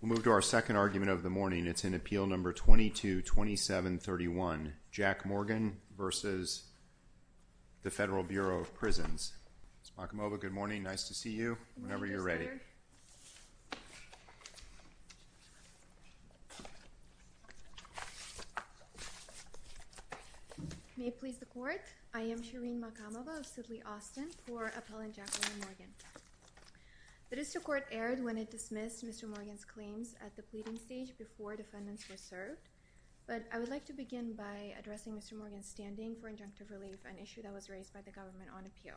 We'll move to our second argument of the morning. It's in appeal number 222731, Jack Morgan v. The Federal Bureau of Prisons. Ms. Makamova, good morning. Nice to see you. Whenever you're ready. May it please the Court. I am Shirin Makamova of Sudley, Austin for Appellant Jack Morgan. The district court erred when it dismissed Mr. Morgan's claims at the pleading stage before defendants were served. But I would like to begin by addressing Mr. Morgan's standing for injunctive relief, an issue that was raised by the government on appeal.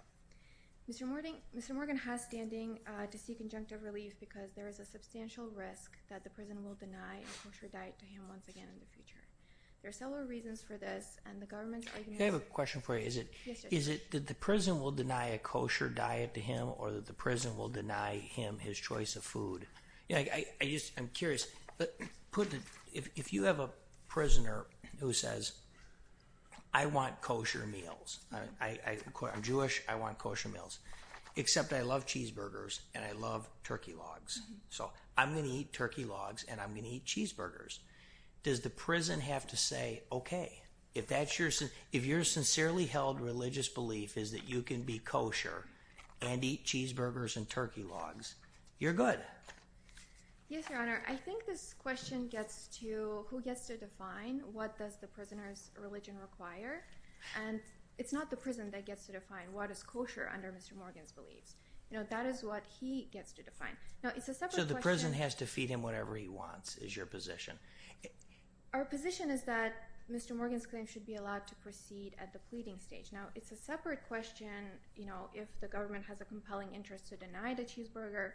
Mr. Morgan has standing to seek injunctive relief because there is a substantial risk that the prison will deny a kosher diet to him once again in the future. There are several reasons for this, and the government's argument— I have a question for you. Is it that the prison will deny a kosher diet to him or that the prison will deny him his choice of food? I'm curious. If you have a prisoner who says, I want kosher meals. I'm Jewish. I want kosher meals. Except I love cheeseburgers and I love turkey logs. So I'm going to eat turkey logs and I'm going to eat cheeseburgers. Does the prison have to say, OK, if your sincerely held religious belief is that you can be kosher and eat cheeseburgers and turkey logs, you're good? Yes, Your Honor. I think this question gets to who gets to define what does the prisoner's religion require. And it's not the prison that gets to define what is kosher under Mr. Morgan's beliefs. That is what he gets to define. So the prison has to feed him whatever he wants is your position? Our position is that Mr. Morgan's claim should be allowed to proceed at the pleading stage. Now, it's a separate question if the government has a compelling interest to deny the cheeseburger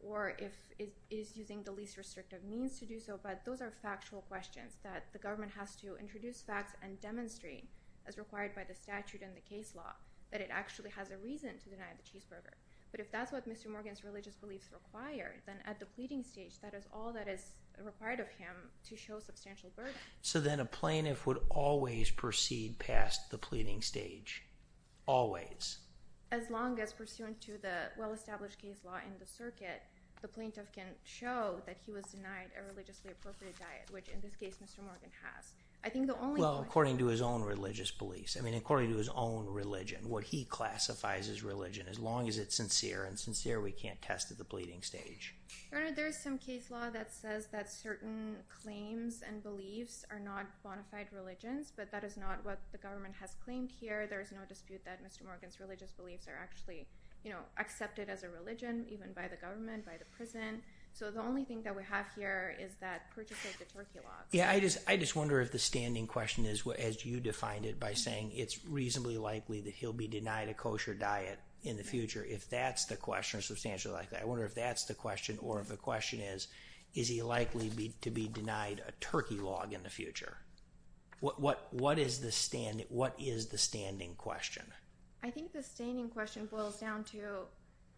or if it is using the least restrictive means to do so. But those are factual questions that the government has to introduce facts and demonstrate, as required by the statute and the case law, that it actually has a reason to deny the cheeseburger. But if that's what Mr. Morgan's religious beliefs require, then at the pleading stage, that is all that is required of him to show substantial burden. So then a plaintiff would always proceed past the pleading stage? Always? As long as pursuant to the well-established case law in the circuit, the plaintiff can show that he was denied a religiously appropriate diet, which in this case Mr. Morgan has. Well, according to his own religious beliefs. I mean, according to his own religion, what he classifies as religion. As long as it's sincere and sincere, we can't test at the pleading stage. There is some case law that says that certain claims and beliefs are not bona fide religions, but that is not what the government has claimed here. There is no dispute that Mr. Morgan's religious beliefs are actually accepted as a religion, even by the government, by the prison. So the only thing that we have here is that purchase of the turkey logs. Yeah, I just wonder if the standing question is, as you defined it by saying it's reasonably likely that he'll be denied a kosher diet in the future. If that's the question, or if the question is, is he likely to be denied a turkey log in the future? What is the standing question? I think the standing question boils down to,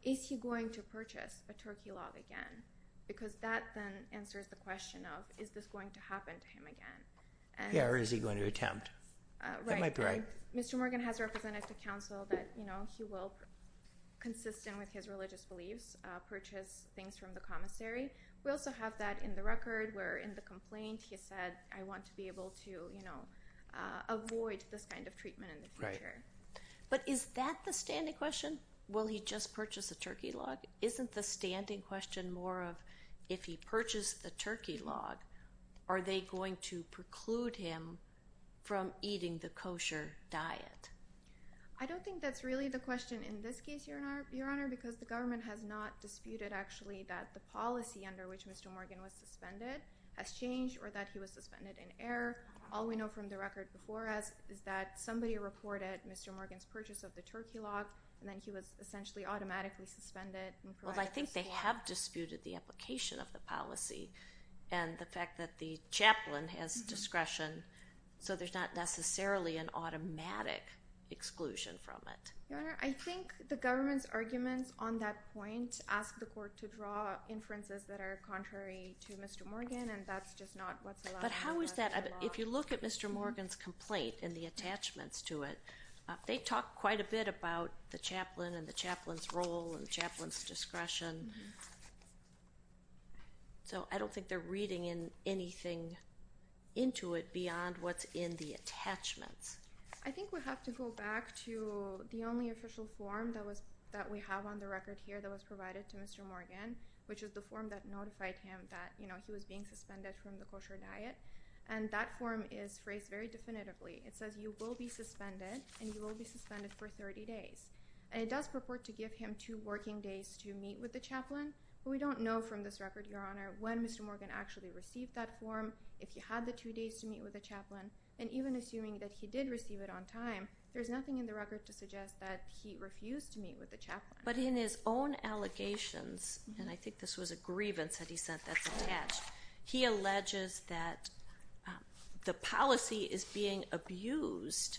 is he going to purchase a turkey log again? Because that then answers the question of, is this going to happen to him again? Yeah, or is he going to attempt? That might be right. Mr. Morgan has represented to counsel that he will, consistent with his religious beliefs, purchase things from the commissary. We also have that in the record, where in the complaint he said, I want to be able to avoid this kind of treatment in the future. But is that the standing question? Will he just purchase a turkey log? Isn't the standing question more of, if he purchased the turkey log, are they going to preclude him from eating the kosher diet? I don't think that's really the question in this case, Your Honor, because the government has not disputed actually that the policy under which Mr. Morgan was suspended has changed or that he was suspended in error. All we know from the record before us is that somebody reported Mr. Morgan's purchase of the turkey log, and then he was essentially automatically suspended. Well, I think they have disputed the application of the policy and the fact that the chaplain has discretion. So there's not necessarily an automatic exclusion from it. Your Honor, I think the government's arguments on that point ask the court to draw inferences that are contrary to Mr. Morgan, and that's just not what's allowed under the law. But how is that? If you look at Mr. Morgan's complaint and the attachments to it, they talk quite a bit about the chaplain and the chaplain's role and the chaplain's discretion. So I don't think they're reading in anything into it beyond what's in the attachments. I think we have to go back to the only official form that we have on the record here that was provided to Mr. Morgan, which is the form that notified him that he was being suspended from the kosher diet. And that form is phrased very definitively. It says you will be suspended, and you will be suspended for 30 days. And it does purport to give him two working days to meet with the chaplain. But we don't know from this record, Your Honor, when Mr. Morgan actually received that form, if he had the two days to meet with the chaplain. And even assuming that he did receive it on time, there's nothing in the record to suggest that he refused to meet with the chaplain. But in his own allegations, and I think this was a grievance that he sent that's attached, he alleges that the policy is being abused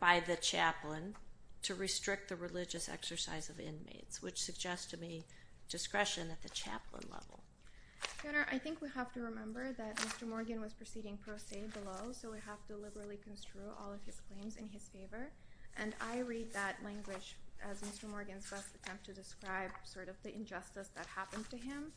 by the chaplain to restrict the religious exercise of inmates, which suggests to me discretion at the chaplain level. Your Honor, I think we have to remember that Mr. Morgan was proceeding pro se below, so we have to liberally construe all of his claims in his favor. And I read that language as Mr. Morgan's best attempt to describe sort of the injustice that happened to him.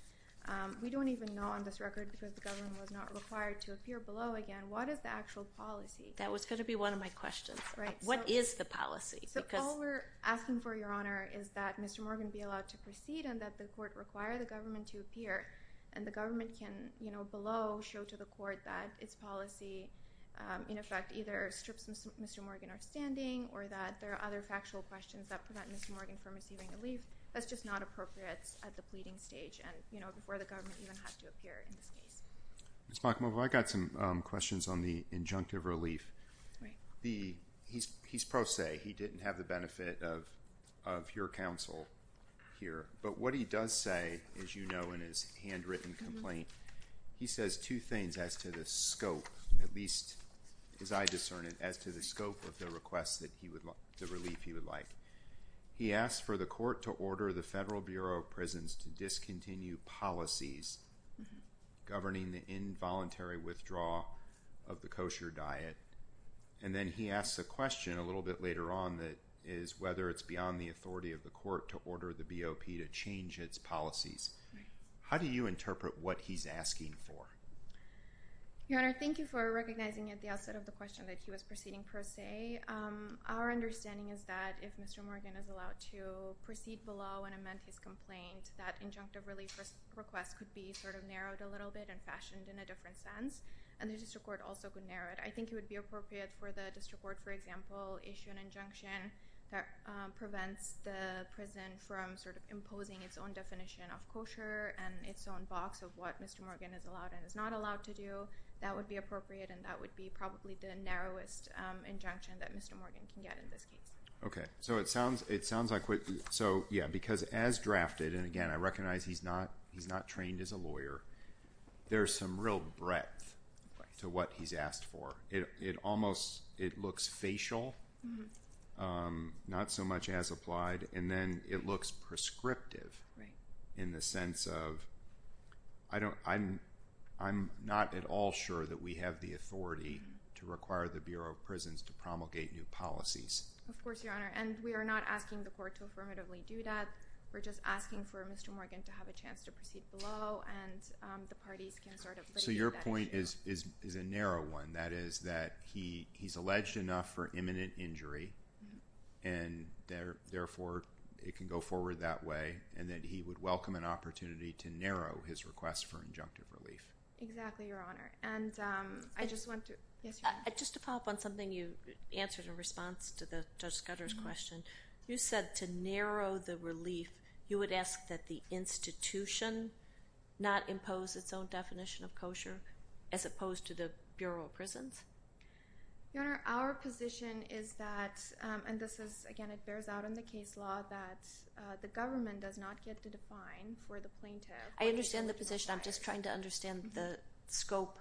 We don't even know on this record, because the government was not required to appear below again, what is the actual policy? That was going to be one of my questions. Right. What is the policy? So all we're asking for, Your Honor, is that Mr. Morgan be allowed to proceed and that the court require the government to appear. And the government can, you know, below show to the court that its policy, in effect, either strips Mr. Morgan of standing or that there are other factual questions that prevent Mr. Morgan from receiving relief. That's just not appropriate at the pleading stage and, you know, before the government even had to appear in this case. Ms. MacMillan, I've got some questions on the injunctive relief. Right. He's pro se. He didn't have the benefit of your counsel here. But what he does say, as you know, in his handwritten complaint, he says two things as to the scope, at least as I discern it, as to the scope of the request that he would like, the relief he would like. He asks for the court to order the Federal Bureau of Prisons to discontinue policies governing the involuntary withdrawal of the kosher diet. And then he asks a question a little bit later on that is whether it's beyond the authority of the court to order the BOP to change its policies. How do you interpret what he's asking for? Your Honor, thank you for recognizing at the outset of the question that he was proceeding pro se. Our understanding is that if Mr. Morgan is allowed to proceed below and amend his complaint, that injunctive relief request could be sort of narrowed a little bit and fashioned in a different sense. And the district court also could narrow it. I think it would be appropriate for the district court, for example, issue an injunction that prevents the prison from sort of imposing its own definition of kosher and its own box of what Mr. Morgan is allowed and is not allowed to do. So that would be appropriate and that would be probably the narrowest injunction that Mr. Morgan can get in this case. Okay, so it sounds like what, so yeah, because as drafted, and again, I recognize he's not trained as a lawyer, there's some real breadth to what he's asked for. It almost, it looks facial, not so much as applied, and then it looks prescriptive in the sense of, I don't, I'm not at all sure that we have the authority to require the Bureau of Prisons to promulgate new policies. Of course, Your Honor, and we are not asking the court to affirmatively do that. We're just asking for Mr. Morgan to have a chance to proceed below and the parties can sort of. Okay, so your point is a narrow one. That is that he's alleged enough for imminent injury and therefore it can go forward that way and that he would welcome an opportunity to narrow his request for injunctive relief. Exactly, Your Honor, and I just want to, yes, Your Honor. as opposed to the Bureau of Prisons? Your Honor, our position is that, and this is, again, it bears out in the case law that the government does not get to define for the plaintiff. I understand the position. I'm just trying to understand the scope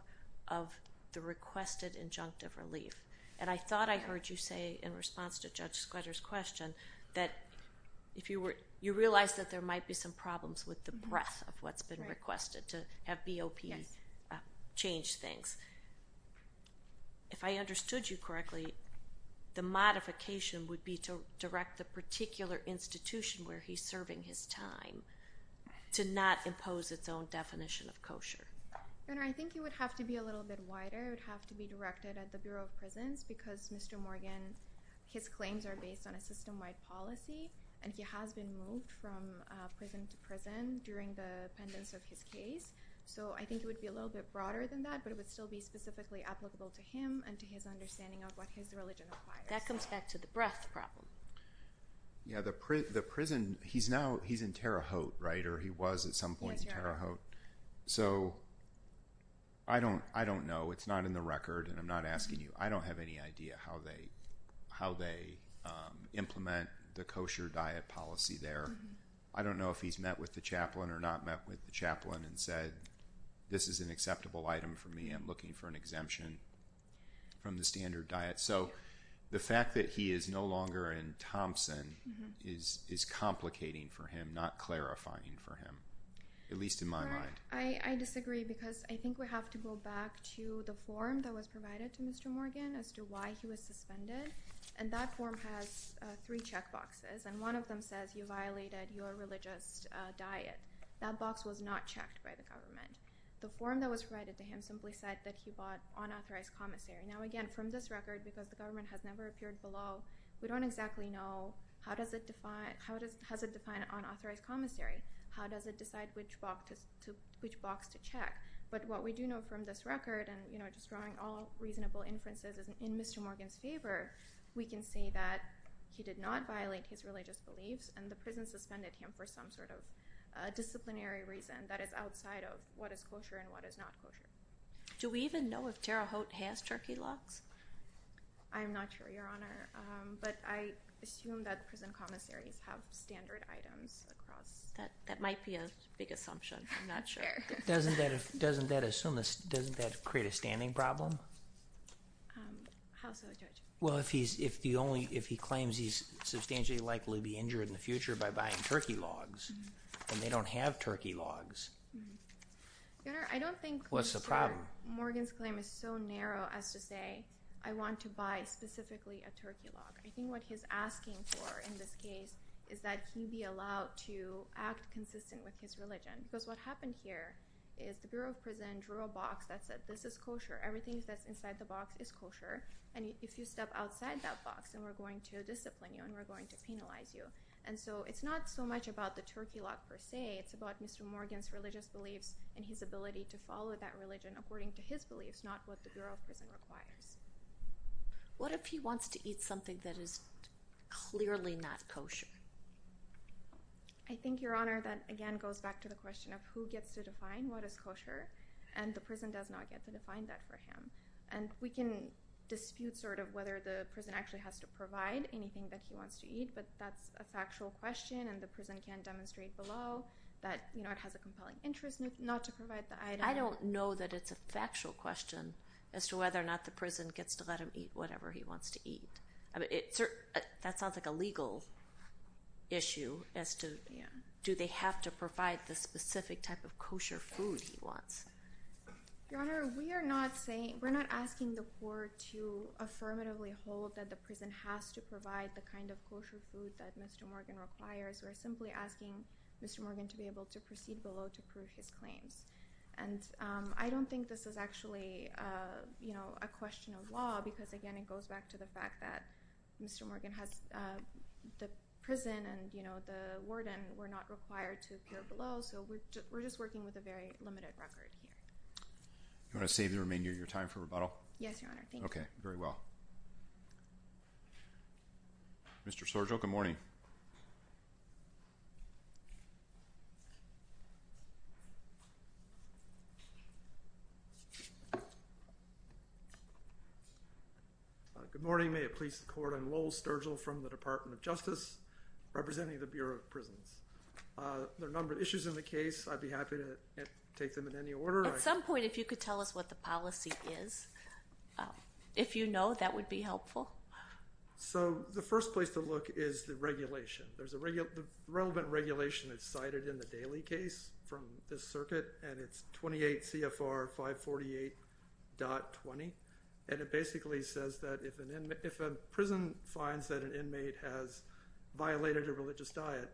of the requested injunctive relief, and I thought I heard you say in response to Judge Squatter's question that if you were, you realize that there might be some problems with the breadth of what's been requested to have BOP. Change things. If I understood you correctly, the modification would be to direct the particular institution where he's serving his time to not impose its own definition of kosher. Your Honor, I think it would have to be a little bit wider. It would have to be directed at the Bureau of Prisons because Mr. Morgan, his claims are based on a system-wide policy, and he has been moved from prison to prison during the pendence of his case. So I think it would be a little bit broader than that, but it would still be specifically applicable to him and to his understanding of what his religion requires. That comes back to the breadth problem. Yeah, the prison, he's now, he's in Terre Haute, right, or he was at some point in Terre Haute. Yes, Your Honor. So I don't know. It's not in the record, and I'm not asking you. I don't have any idea how they implement the kosher diet policy there. I don't know if he's met with the chaplain or not met with the chaplain and said, this is an acceptable item for me. I'm looking for an exemption from the standard diet. So the fact that he is no longer in Thompson is complicating for him, not clarifying for him, at least in my mind. Your Honor, I disagree because I think we have to go back to the form that was provided to Mr. Morgan as to why he was suspended, and that form has three checkboxes. And one of them says you violated your religious diet. That box was not checked by the government. The form that was provided to him simply said that he bought unauthorized commissary. Now, again, from this record, because the government has never appeared below, we don't exactly know how does it define, how does it define unauthorized commissary? How does it decide which box to check? But what we do know from this record, and just drawing all reasonable inferences in Mr. Morgan's favor, we can say that he did not violate his religious beliefs, and the prison suspended him for some sort of disciplinary reason that is outside of what is kosher and what is not kosher. Do we even know if Tara Haute has turkey locks? I'm not sure, Your Honor. But I assume that prison commissaries have standard items across. That might be a big assumption. I'm not sure. Doesn't that assume, doesn't that create a standing problem? How so, Judge? Well, if he claims he's substantially likely to be injured in the future by buying turkey logs, and they don't have turkey logs, what's the problem? Your Honor, I don't think Mr. Morgan's claim is so narrow as to say I want to buy specifically a turkey lock. I think what he's asking for in this case is that he be allowed to act consistent with his religion. Because what happened here is the Bureau of Prison drew a box that said this is kosher. Everything that's inside the box is kosher, and if you step outside that box, then we're going to discipline you and we're going to penalize you. And so it's not so much about the turkey lock per se. It's about Mr. Morgan's religious beliefs and his ability to follow that religion according to his beliefs, not what the Bureau of Prison requires. What if he wants to eat something that is clearly not kosher? I think, Your Honor, that again goes back to the question of who gets to define what is kosher, and the prison does not get to define that for him. And we can dispute sort of whether the prison actually has to provide anything that he wants to eat, but that's a factual question, and the prison can demonstrate below that it has a compelling interest not to provide the item. I don't know that it's a factual question as to whether or not the prison gets to let him eat whatever he wants to eat. That sounds like a legal issue as to do they have to provide the specific type of kosher food he wants. Your Honor, we are not asking the court to affirmatively hold that the prison has to provide the kind of kosher food that Mr. Morgan requires. We're simply asking Mr. Morgan to be able to proceed below to prove his claims. I don't think this is actually a question of law because, again, it goes back to the fact that Mr. Morgan has the prison and the warden were not required to appear below, so we're just working with a very limited record here. You want to save the remainder of your time for rebuttal? Yes, Your Honor. Thank you. Okay. Very well. Mr. Sorgio, good morning. Good morning. May it please the court, I'm Lowell Sturgill from the Department of Justice representing the Bureau of Prisons. There are a number of issues in the case. I'd be happy to take them in any order. At some point, if you could tell us what the policy is, if you know, that would be helpful. So the first place to look is the regulation. The relevant regulation is cited in the Daly case from this circuit and it's 28 CFR 548.20. And it basically says that if a prison finds that an inmate has violated a religious diet,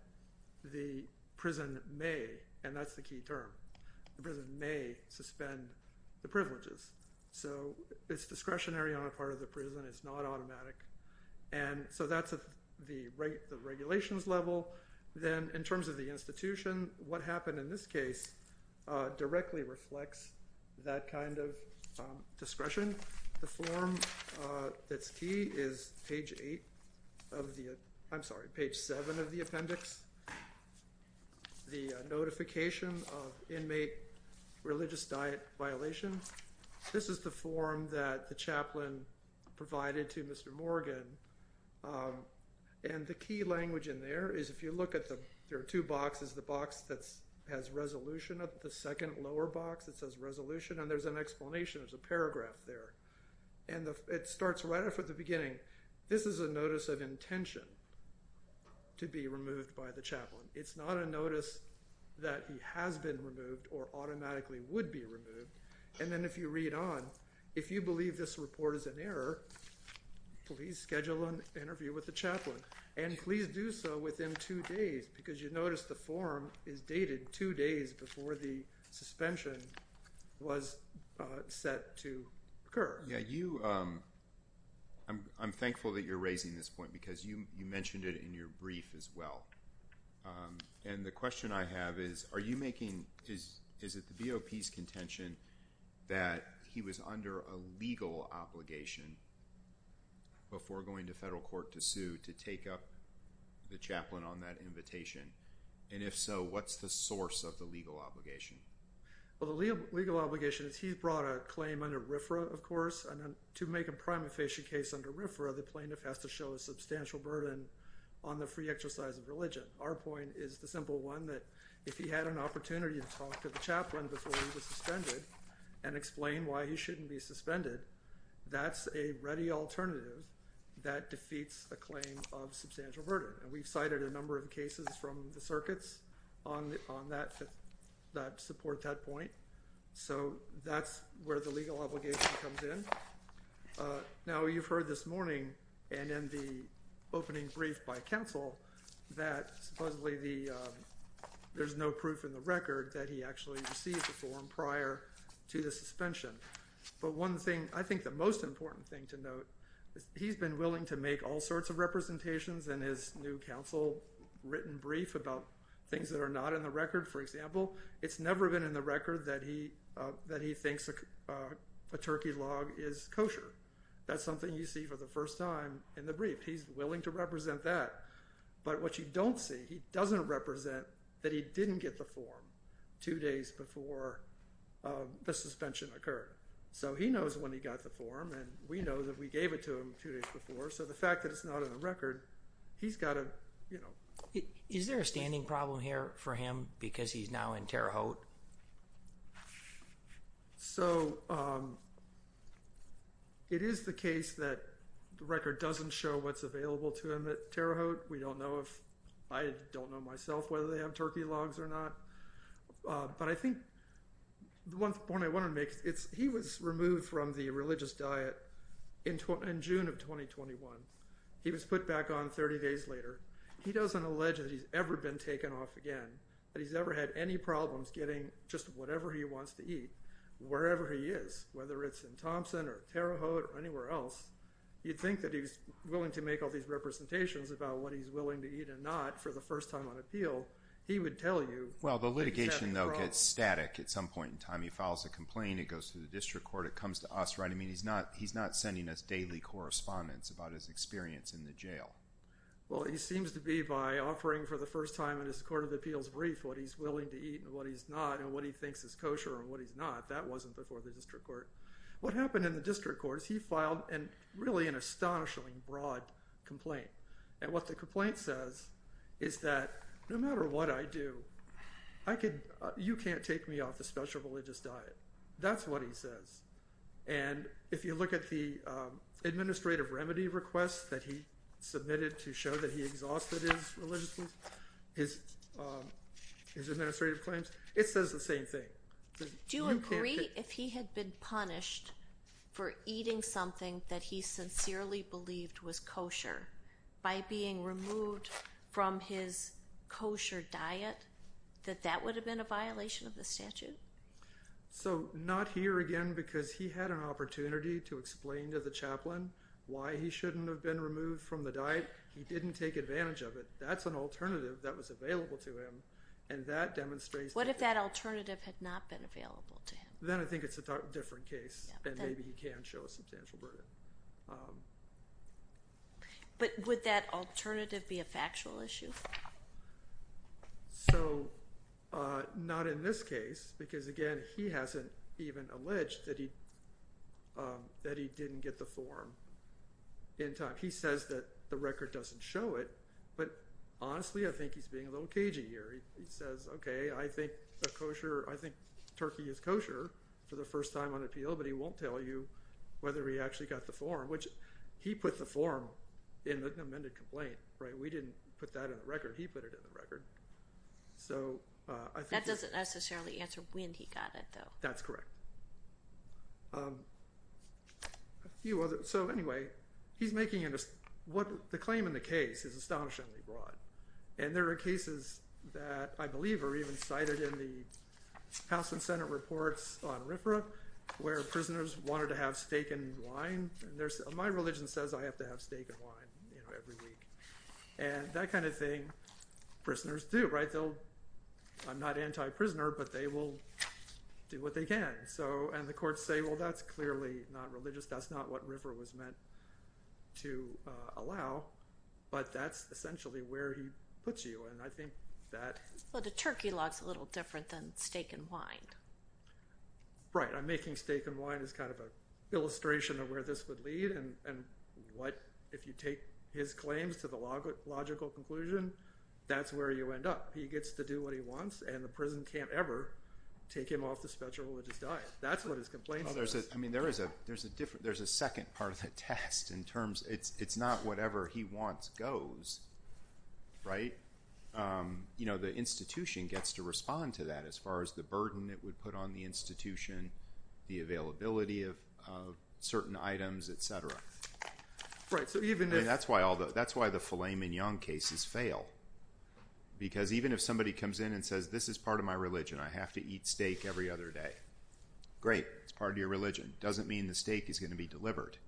the prison may, and that's the key term, the prison may suspend the privileges. So it's discretionary on the part of the prison. It's not automatic. And so that's the regulations level. Then in terms of the institution, what happened in this case directly reflects that kind of discretion. The form that's key is page 8 of the, I'm sorry, page 7 of the appendix. The notification of inmate religious diet violation. This is the form that the chaplain provided to Mr. Morgan. And the key language in there is if you look at the, there are two boxes, the box that has resolution of the second lower box that says resolution. And there's an explanation, there's a paragraph there. And it starts right off at the beginning. This is a notice of intention to be removed by the chaplain. It's not a notice that he has been removed or automatically would be removed. And then if you read on, if you believe this report is an error, please schedule an interview with the chaplain. And please do so within two days because you notice the form is dated two days before the suspension was set to occur. Yeah, you, I'm thankful that you're raising this point because you mentioned it in your brief as well. And the question I have is, are you making, is it the BOP's contention that he was under a legal obligation before going to federal court to sue to take up the chaplain on that invitation? And if so, what's the source of the legal obligation? Well, the legal obligation is he brought a claim under RFRA, of course. And to make a prima facie case under RFRA, the plaintiff has to show a substantial burden on the free exercise of religion. Our point is the simple one that if he had an opportunity to talk to the chaplain before he was suspended and explain why he shouldn't be suspended, that's a ready alternative that defeats a claim of substantial burden. And we've cited a number of cases from the circuits on that, that support that point. So that's where the legal obligation comes in. Now, you've heard this morning and in the opening brief by counsel that supposedly there's no proof in the record that he actually received the form prior to the suspension. But one thing, I think the most important thing to note is he's been willing to make all sorts of representations in his new counsel written brief about things that are not in the record. For example, it's never been in the record that he thinks a turkey log is kosher. That's something you see for the first time in the brief. He's willing to represent that. But what you don't see, he doesn't represent that he didn't get the form two days before the suspension occurred. So he knows when he got the form and we know that we gave it to him two days before. So the fact that it's not in the record, he's got to, you know. Is there a standing problem here for him because he's now in Terre Haute? So it is the case that the record doesn't show what's available to him at Terre Haute. We don't know if I don't know myself whether they have turkey logs or not. But I think the one point I want to make is he was removed from the religious diet in June of 2021. He was put back on 30 days later. He doesn't allege that he's ever been taken off again. That he's ever had any problems getting just whatever he wants to eat, wherever he is. Whether it's in Thompson or Terre Haute or anywhere else. You'd think that he's willing to make all these representations about what he's willing to eat and not for the first time on appeal. He would tell you. Well, the litigation, though, gets static at some point in time. He files a complaint. It goes to the district court. It comes to us, right? I mean, he's not sending us daily correspondence about his experience in the jail. Well, he seems to be by offering for the first time in his court of appeals brief what he's willing to eat and what he's not. And what he thinks is kosher and what he's not. That wasn't before the district court. What happened in the district court is he filed really an astonishingly broad complaint. And what the complaint says is that no matter what I do, you can't take me off the special religious diet. That's what he says. And if you look at the administrative remedy request that he submitted to show that he exhausted his administrative claims, it says the same thing. Do you agree if he had been punished for eating something that he sincerely believed was kosher by being removed from his kosher diet, that that would have been a violation of the statute? So not here again because he had an opportunity to explain to the chaplain why he shouldn't have been removed from the diet. He didn't take advantage of it. That's an alternative that was available to him. And that demonstrates that. What if that alternative had not been available to him? Then I think it's a different case. And maybe he can show a substantial burden. But would that alternative be a factual issue? So not in this case, because, again, he hasn't even alleged that he didn't get the form in time. He says that the record doesn't show it. But honestly, I think he's being a little cagey here. He says, OK, I think kosher. I think Turkey is kosher for the first time on appeal. But he won't tell you whether he actually got the form, which he put the form in the amended complaint. We didn't put that in the record. He put it in the record. That doesn't necessarily answer when he got it, though. That's correct. So anyway, the claim in the case is astonishingly broad. And there are cases that I believe are even cited in the House and Senate reports on RFRA where prisoners wanted to have steak and wine. And my religion says I have to have steak and wine every week. And that kind of thing, prisoners do. I'm not anti-prisoner, but they will do what they can. And the courts say, well, that's clearly not religious. That's not what RFRA was meant to allow. But that's essentially where he puts you. And I think that— Well, the turkey log's a little different than steak and wine. Right. I'm making steak and wine as kind of an illustration of where this would lead. And if you take his claims to the logical conclusion, that's where you end up. He gets to do what he wants, and the prison can't ever take him off the special religious diet. That's what his complaint says. I mean, there's a second part of the test in terms—it's not whatever he wants goes, right? The institution gets to respond to that as far as the burden it would put on the institution, the availability of certain items, et cetera. Right. So even if— That's why the filet mignon cases fail. Because even if somebody comes in and says, this is part of my religion, I have to eat steak every other day. Great. It's part of your religion. Doesn't mean the steak is going to be delivered.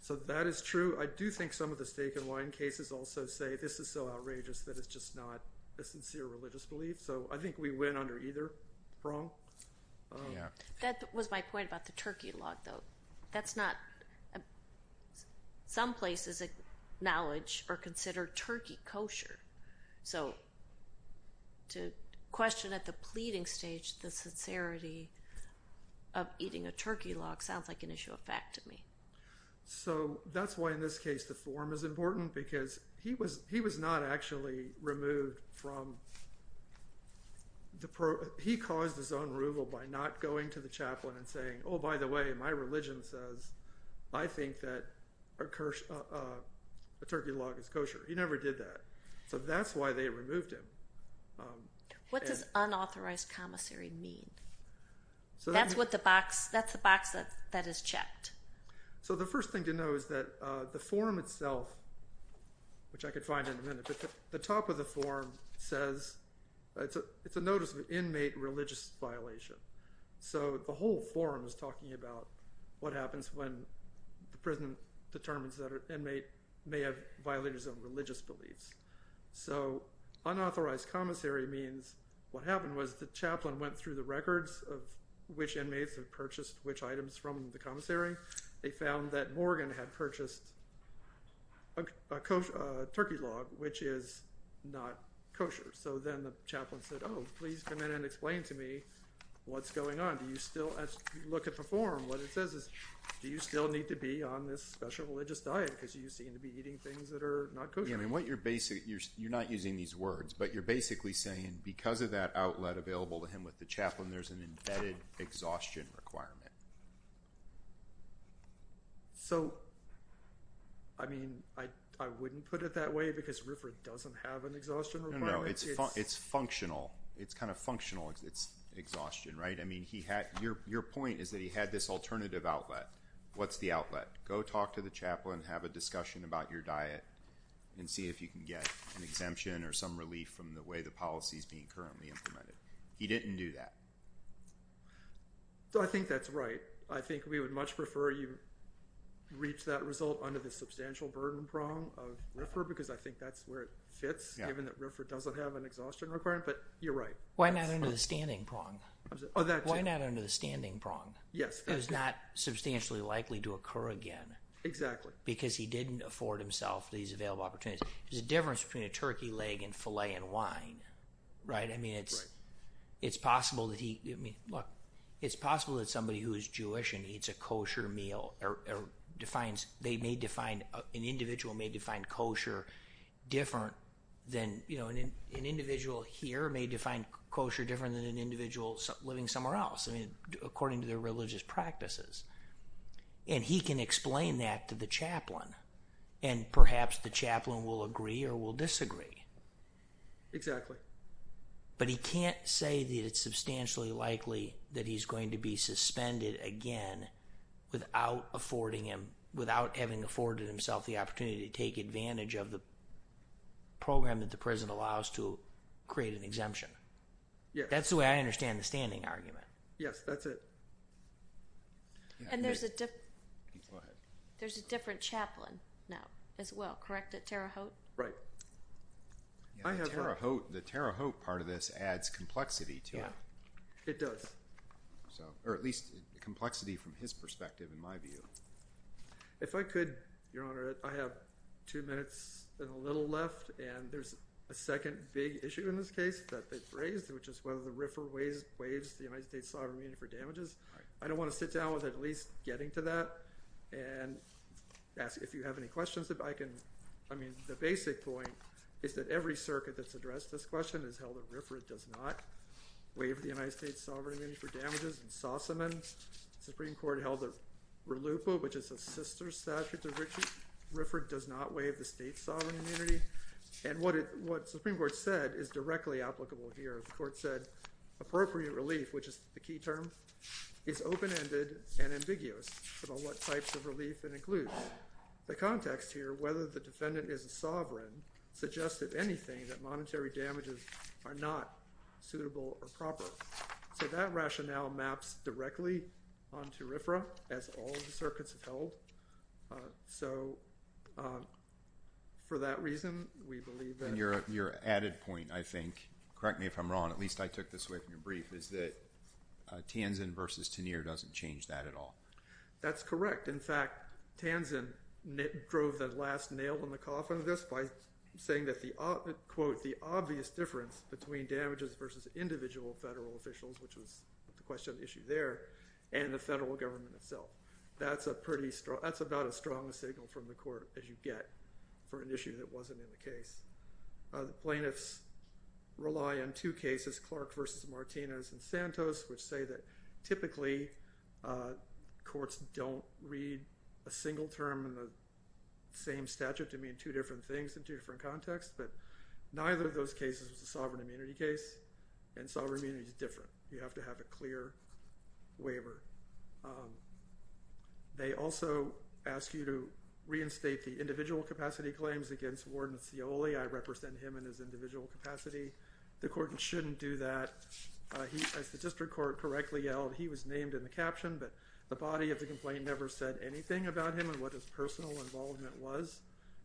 So that is true. I do think some of the steak and wine cases also say this is so outrageous that it's just not a sincere religious belief. So I think we win under either prong. That was my point about the turkey log, though. That's not—some places acknowledge or consider turkey kosher. So to question at the pleading stage the sincerity of eating a turkey log sounds like an issue of fact to me. So that's why in this case the form is important because he was not actually removed from— he caused his own removal by not going to the chaplain and saying, oh, by the way, my religion says I think that a turkey log is kosher. He never did that. So that's why they removed him. What does unauthorized commissary mean? That's what the box—that's the box that is checked. So the first thing to know is that the form itself, which I could find in a minute, the top of the form says—it's a notice of inmate religious violation. So the whole form is talking about what happens when the prison determines that an inmate may have violated some religious beliefs. So unauthorized commissary means what happened was the chaplain went through the records of which inmates had purchased which items from the commissary. They found that Morgan had purchased a turkey log, which is not kosher. So then the chaplain said, oh, please come in and explain to me what's going on. Do you still—as you look at the form, what it says is do you still need to be on this special religious diet because you seem to be eating things that are not kosher? Yeah, I mean what you're—you're not using these words, but you're basically saying because of that outlet available to him with the chaplain, there's an embedded exhaustion requirement. So, I mean, I wouldn't put it that way because Riffer doesn't have an exhaustion requirement. No, no, it's functional. It's kind of functional. It's exhaustion, right? I mean he had—your point is that he had this alternative outlet. What's the outlet? Go talk to the chaplain, have a discussion about your diet, and see if you can get an exemption or some relief from the way the policy is being currently implemented. He didn't do that. So I think that's right. I think we would much prefer you reach that result under the substantial burden prong of Riffer because I think that's where it fits given that Riffer doesn't have an exhaustion requirement, but you're right. Why not under the standing prong? Why not under the standing prong? Yes. It was not substantially likely to occur again. Exactly. Because he didn't afford himself these available opportunities. There's a difference between a turkey leg and filet and wine, right? I mean, it's possible that he—look, it's possible that somebody who is Jewish and eats a kosher meal or defines—they may define—an individual may define kosher different than— an individual here may define kosher different than an individual living somewhere else, I mean, according to their religious practices. And he can explain that to the chaplain and perhaps the chaplain will agree or will disagree. Exactly. But he can't say that it's substantially likely that he's going to be suspended again without affording him— without having afforded himself the opportunity to take advantage of the program that the prison allows to create an exemption. Yes. That's the way I understand the standing argument. Yes, that's it. And there's a— Go ahead. There's a different chaplain now as well, correct, at Terre Haute? Right. I have— The Terre Haute part of this adds complexity to it. Yeah. It does. Or at least complexity from his perspective in my view. If I could, Your Honor, I have two minutes and a little left, and there's a second big issue in this case that they've raised, which is whether the RFRA waives the United States sovereign immunity for damages. Right. I don't want to sit down with at least getting to that and ask if you have any questions. I can—I mean, the basic point is that every circuit that's addressed this question has held that RFRA does not waive the United States sovereign immunity for damages. In Sossaman, the Supreme Court held that RLUIPA, which is a sister statute to RFRA, does not waive the state's sovereign immunity. And what the Supreme Court said is directly applicable here. The court said appropriate relief, which is the key term, is open-ended and ambiguous about what types of relief it includes. The context here, whether the defendant is a sovereign, suggests, if anything, that monetary damages are not suitable or proper. So that rationale maps directly onto RFRA, as all the circuits have held. So for that reason, we believe that— And your added point, I think—correct me if I'm wrong. At least I took this away from your brief—is that Tanzen versus Tenier doesn't change that at all. That's correct. In fact, Tanzen drove the last nail in the coffin of this by saying that, quote, the obvious difference between damages versus individual federal officials, which was the question issue there, and the federal government itself. That's about as strong a signal from the court as you get for an issue that wasn't in the case. The plaintiffs rely on two cases, Clark versus Martinez and Santos, which say that typically courts don't read a single term in the same statute to mean two different things in two different contexts. But neither of those cases was a sovereign immunity case, and sovereign immunity is different. You have to have a clear waiver. They also ask you to reinstate the individual capacity claims against Warden Scioli. I represent him in his individual capacity. The court shouldn't do that. As the district court correctly yelled, he was named in the caption, but the body of the complaint never said anything about him and what his personal involvement was.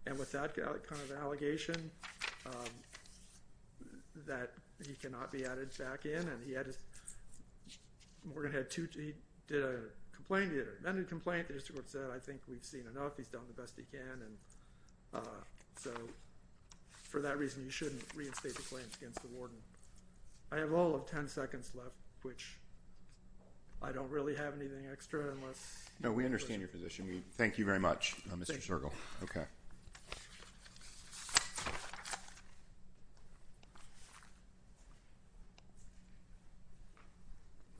And with that kind of allegation that he cannot be added back in, and he had his ‑‑ Morgan had two ‑‑ he did a complaint. Then he complained. The district court said, I think we've seen enough. He's done the best he can. And so for that reason, you shouldn't reinstate the claims against the warden. I have all of 10 seconds left, which I don't really have anything extra unless ‑‑ No, we understand your position. Thank you very much, Mr. Zirkle.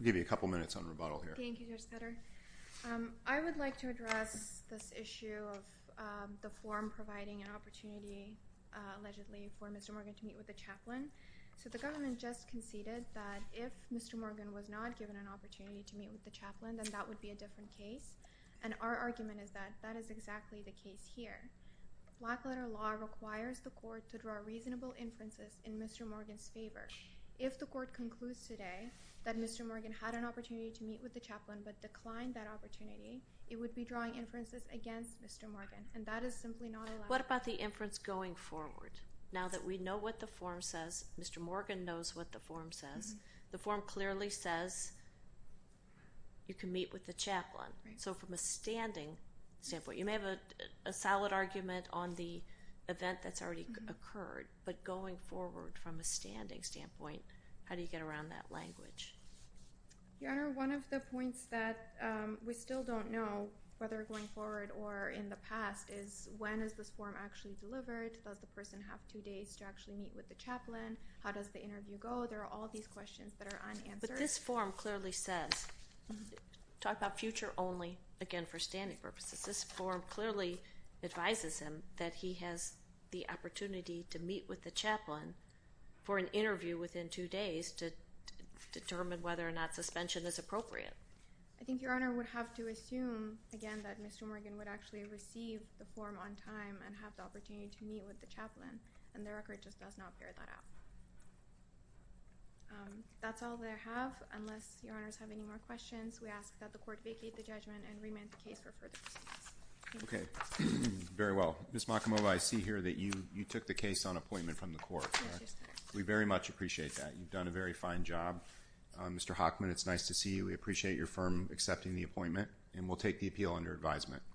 I'll give you a couple minutes on rebuttal here. Thank you, Judge Ketter. I would like to address this issue of the forum providing an opportunity, allegedly, for Mr. Morgan to meet with the chaplain. So the government just conceded that if Mr. Morgan was not given an opportunity to meet with the chaplain, then that would be a different case. And our argument is that that is exactly the case here. Blackletter law requires the court to draw reasonable inferences in Mr. Morgan's favor. If the court concludes today that Mr. Morgan had an opportunity to meet with the chaplain but declined that opportunity, it would be drawing inferences against Mr. Morgan, and that is simply not allowed. What about the inference going forward? Now that we know what the forum says, Mr. Morgan knows what the forum says, the forum clearly says you can meet with the chaplain. So from a standing standpoint, you may have a solid argument on the event that's already occurred, but going forward from a standing standpoint, how do you get around that language? Your Honor, one of the points that we still don't know, whether going forward or in the past, is when is this forum actually delivered? Does the person have two days to actually meet with the chaplain? How does the interview go? There are all these questions that are unanswered. But this forum clearly says, talk about future only, again, for standing purposes, this forum clearly advises him that he has the opportunity to meet with the chaplain for an interview within two days to determine whether or not suspension is appropriate. I think Your Honor would have to assume, again, that Mr. Morgan would actually receive the forum on time and have the opportunity to meet with the chaplain, and the record just does not bear that out. That's all that I have. Unless Your Honors have any more questions, we ask that the court vacate the judgment and remand the case for further proceedings. Okay. Very well. Ms. Mockimova, I see here that you took the case on appointment from the court. Yes, I did. We very much appreciate that. You've done a very fine job. Mr. Hockman, it's nice to see you. We appreciate your firm accepting the appointment, and we'll take the appeal under advisement.